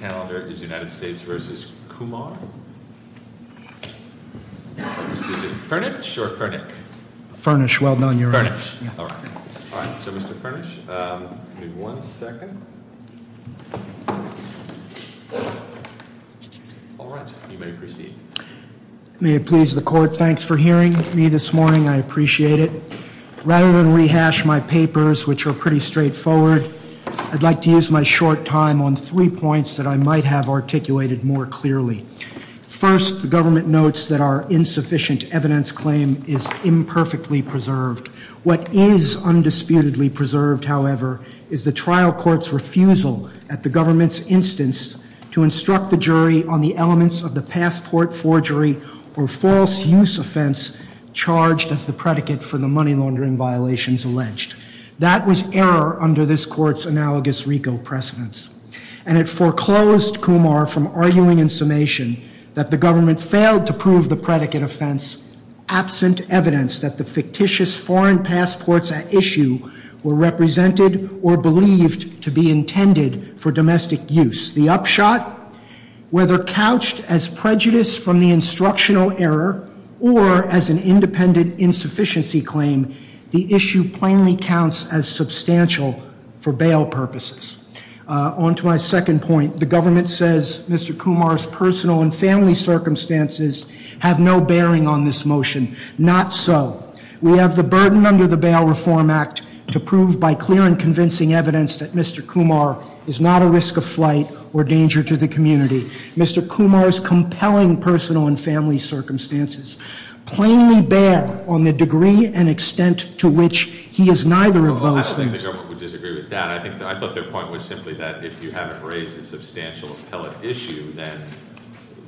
Mr. Furnish, well known in the room. Mr. Furnish, one second. All right, you may proceed. May it please the court, thanks for hearing me this morning, I appreciate it. Rather than rehash my papers, which are pretty straight forward, I'd like to use my short time on three points that I'm going to make. And I might have articulated more clearly. First, the government notes that our insufficient evidence claim is imperfectly preserved. What is undisputedly preserved, however, is the trial court's refusal at the government's instance to instruct the jury on the elements of the passport forgery or false use offense charged as the predicate for the money laundering violations alleged. That was error under this court's analogous RICO precedence. And it foreclosed Kumar from arguing in summation that the government failed to prove the predicate offense absent evidence that the fictitious foreign passports at issue were represented or believed to be intended for domestic use. The upshot, whether couched as prejudice from the instructional error or as an independent insufficiency claim, the issue plainly counts as substantial for bail purposes. On to my second point, the government says Mr. Kumar's personal and family circumstances have no bearing on this motion. Not so. We have the burden under the Bail Reform Act to prove by clear and convincing evidence that Mr. Kumar is not a risk of flight or danger to the community. Mr. Kumar's compelling personal and family circumstances plainly bear on the degree and extent to which he is neither of those things. I think everyone would disagree with that. I thought their point was simply that if you haven't raised a substantial appellate issue, then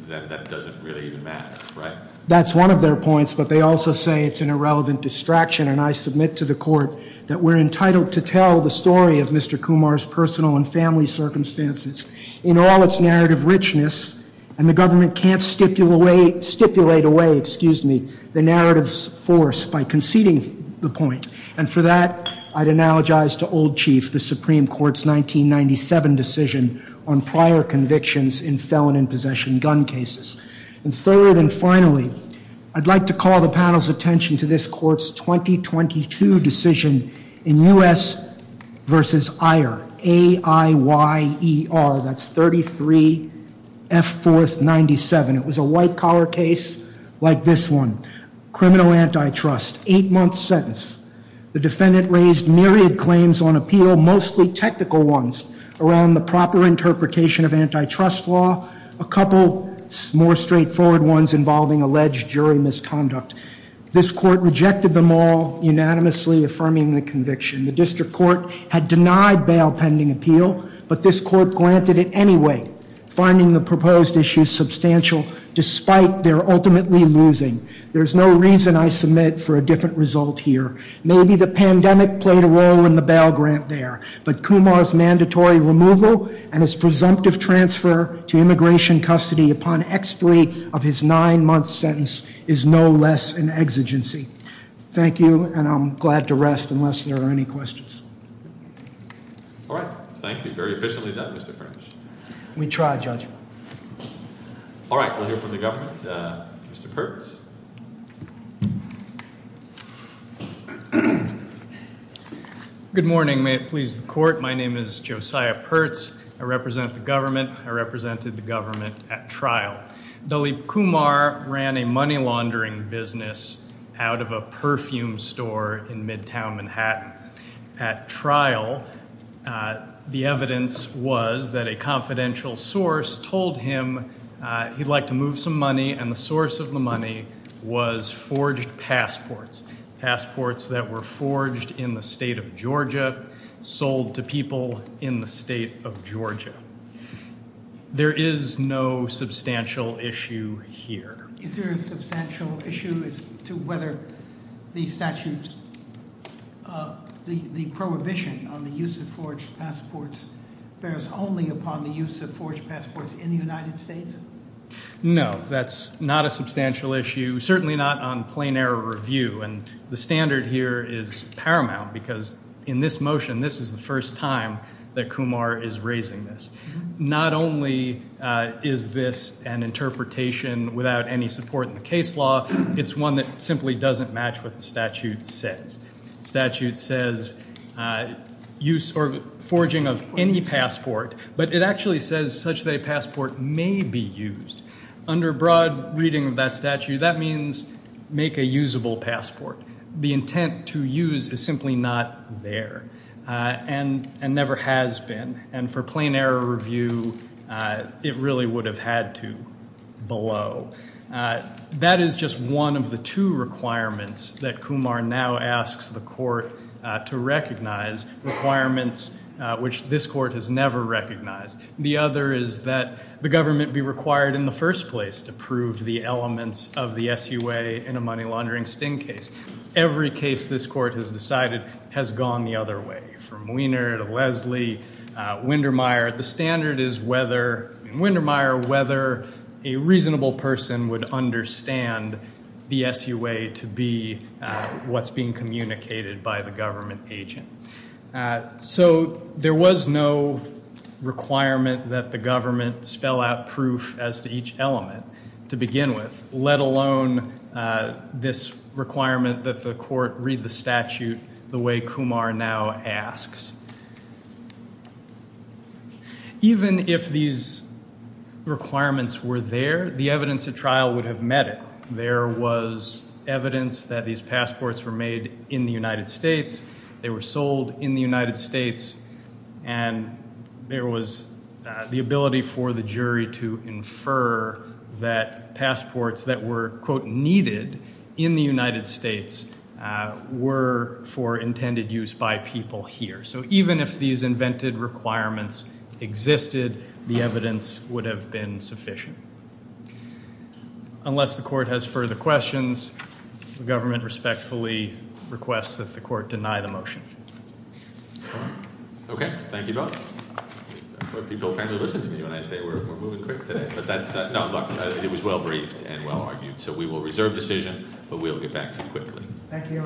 that doesn't really even matter, right? That's one of their points, but they also say it's an irrelevant distraction. And I submit to the court that we're entitled to tell the story of Mr. Kumar's personal and family circumstances in all its narrative richness. And the government can't stipulate away the narrative's force by conceding the point. And for that, I'd analogize to Old Chief, the Supreme Court's 1997 decision on prior convictions in felon and possession gun cases. And third and finally, I'd like to call the panel's attention to this court's 2022 decision in U.S. versus Ayer. A-I-Y-E-R, that's 33-F-4-97. It was a white collar case like this one. Criminal antitrust, eight-month sentence. The defendant raised myriad claims on appeal, mostly technical ones around the proper interpretation of antitrust law. A couple more straightforward ones involving alleged jury misconduct. This court rejected them all, unanimously affirming the conviction. The district court had denied bail pending appeal, but this court granted it anyway, finding the proposed issues substantial despite their ultimately losing. There's no reason I submit for a different result here. Maybe the pandemic played a role in the bail grant there. But Kumar's mandatory removal and his presumptive transfer to immigration custody upon expiry of his nine-month sentence is no less an exigency. Thank you, and I'm glad to rest unless there are any questions. All right. Thank you. Very efficiently done, Mr. French. We tried, Judge. All right. We'll hear from the government. Mr. Pertz. Good morning. May it please the court. My name is Josiah Pertz. I represent the government. I represented the government at trial. Dalip Kumar ran a money laundering business out of a perfume store in midtown Manhattan. At trial, the evidence was that a confidential source told him he'd like to move some money, and the source of the money was forged passports, passports that were forged in the state of Georgia, sold to people in the state of Georgia. There is no substantial issue here. Is there a substantial issue as to whether the statute, the prohibition on the use of forged passports bears only upon the use of forged passports in the United States? No, that's not a substantial issue. Certainly not on plain error review. And the standard here is paramount because in this motion, this is the first time that Kumar is raising this. Not only is this an interpretation without any support in the case law, it's one that simply doesn't match what the statute says. The statute says use or forging of any passport, but it actually says such that a passport may be used. Under broad reading of that statute, that means make a usable passport. The intent to use is simply not there and never has been. And for plain error review, it really would have had to below. That is just one of the two requirements that Kumar now asks the court to recognize, requirements which this court has never recognized. The other is that the government be required in the first place to prove the elements of the SUA in a money laundering sting case. Every case this court has decided has gone the other way, from Wiener to Leslie, Windermeyer. The standard is whether, in Windermeyer, whether a reasonable person would understand the SUA to be what's being communicated by the government agent. So there was no requirement that the government spell out proof as to each element to begin with, let alone this requirement that the court read the statute the way Kumar now asks. Even if these requirements were there, the evidence at trial would have met it. There was evidence that these passports were made in the United States. They were sold in the United States. And there was the ability for the jury to infer that passports that were, quote, needed in the United States were for intended use by people here. So even if these invented requirements existed, the evidence would have been sufficient. Unless the court has further questions, the government respectfully requests that the court deny the motion. Okay, thank you both. People apparently listen to me when I say we're moving quick today. But that's not, it was well briefed and well argued. So we will reserve decision, but we'll get back to you quickly. Thank you.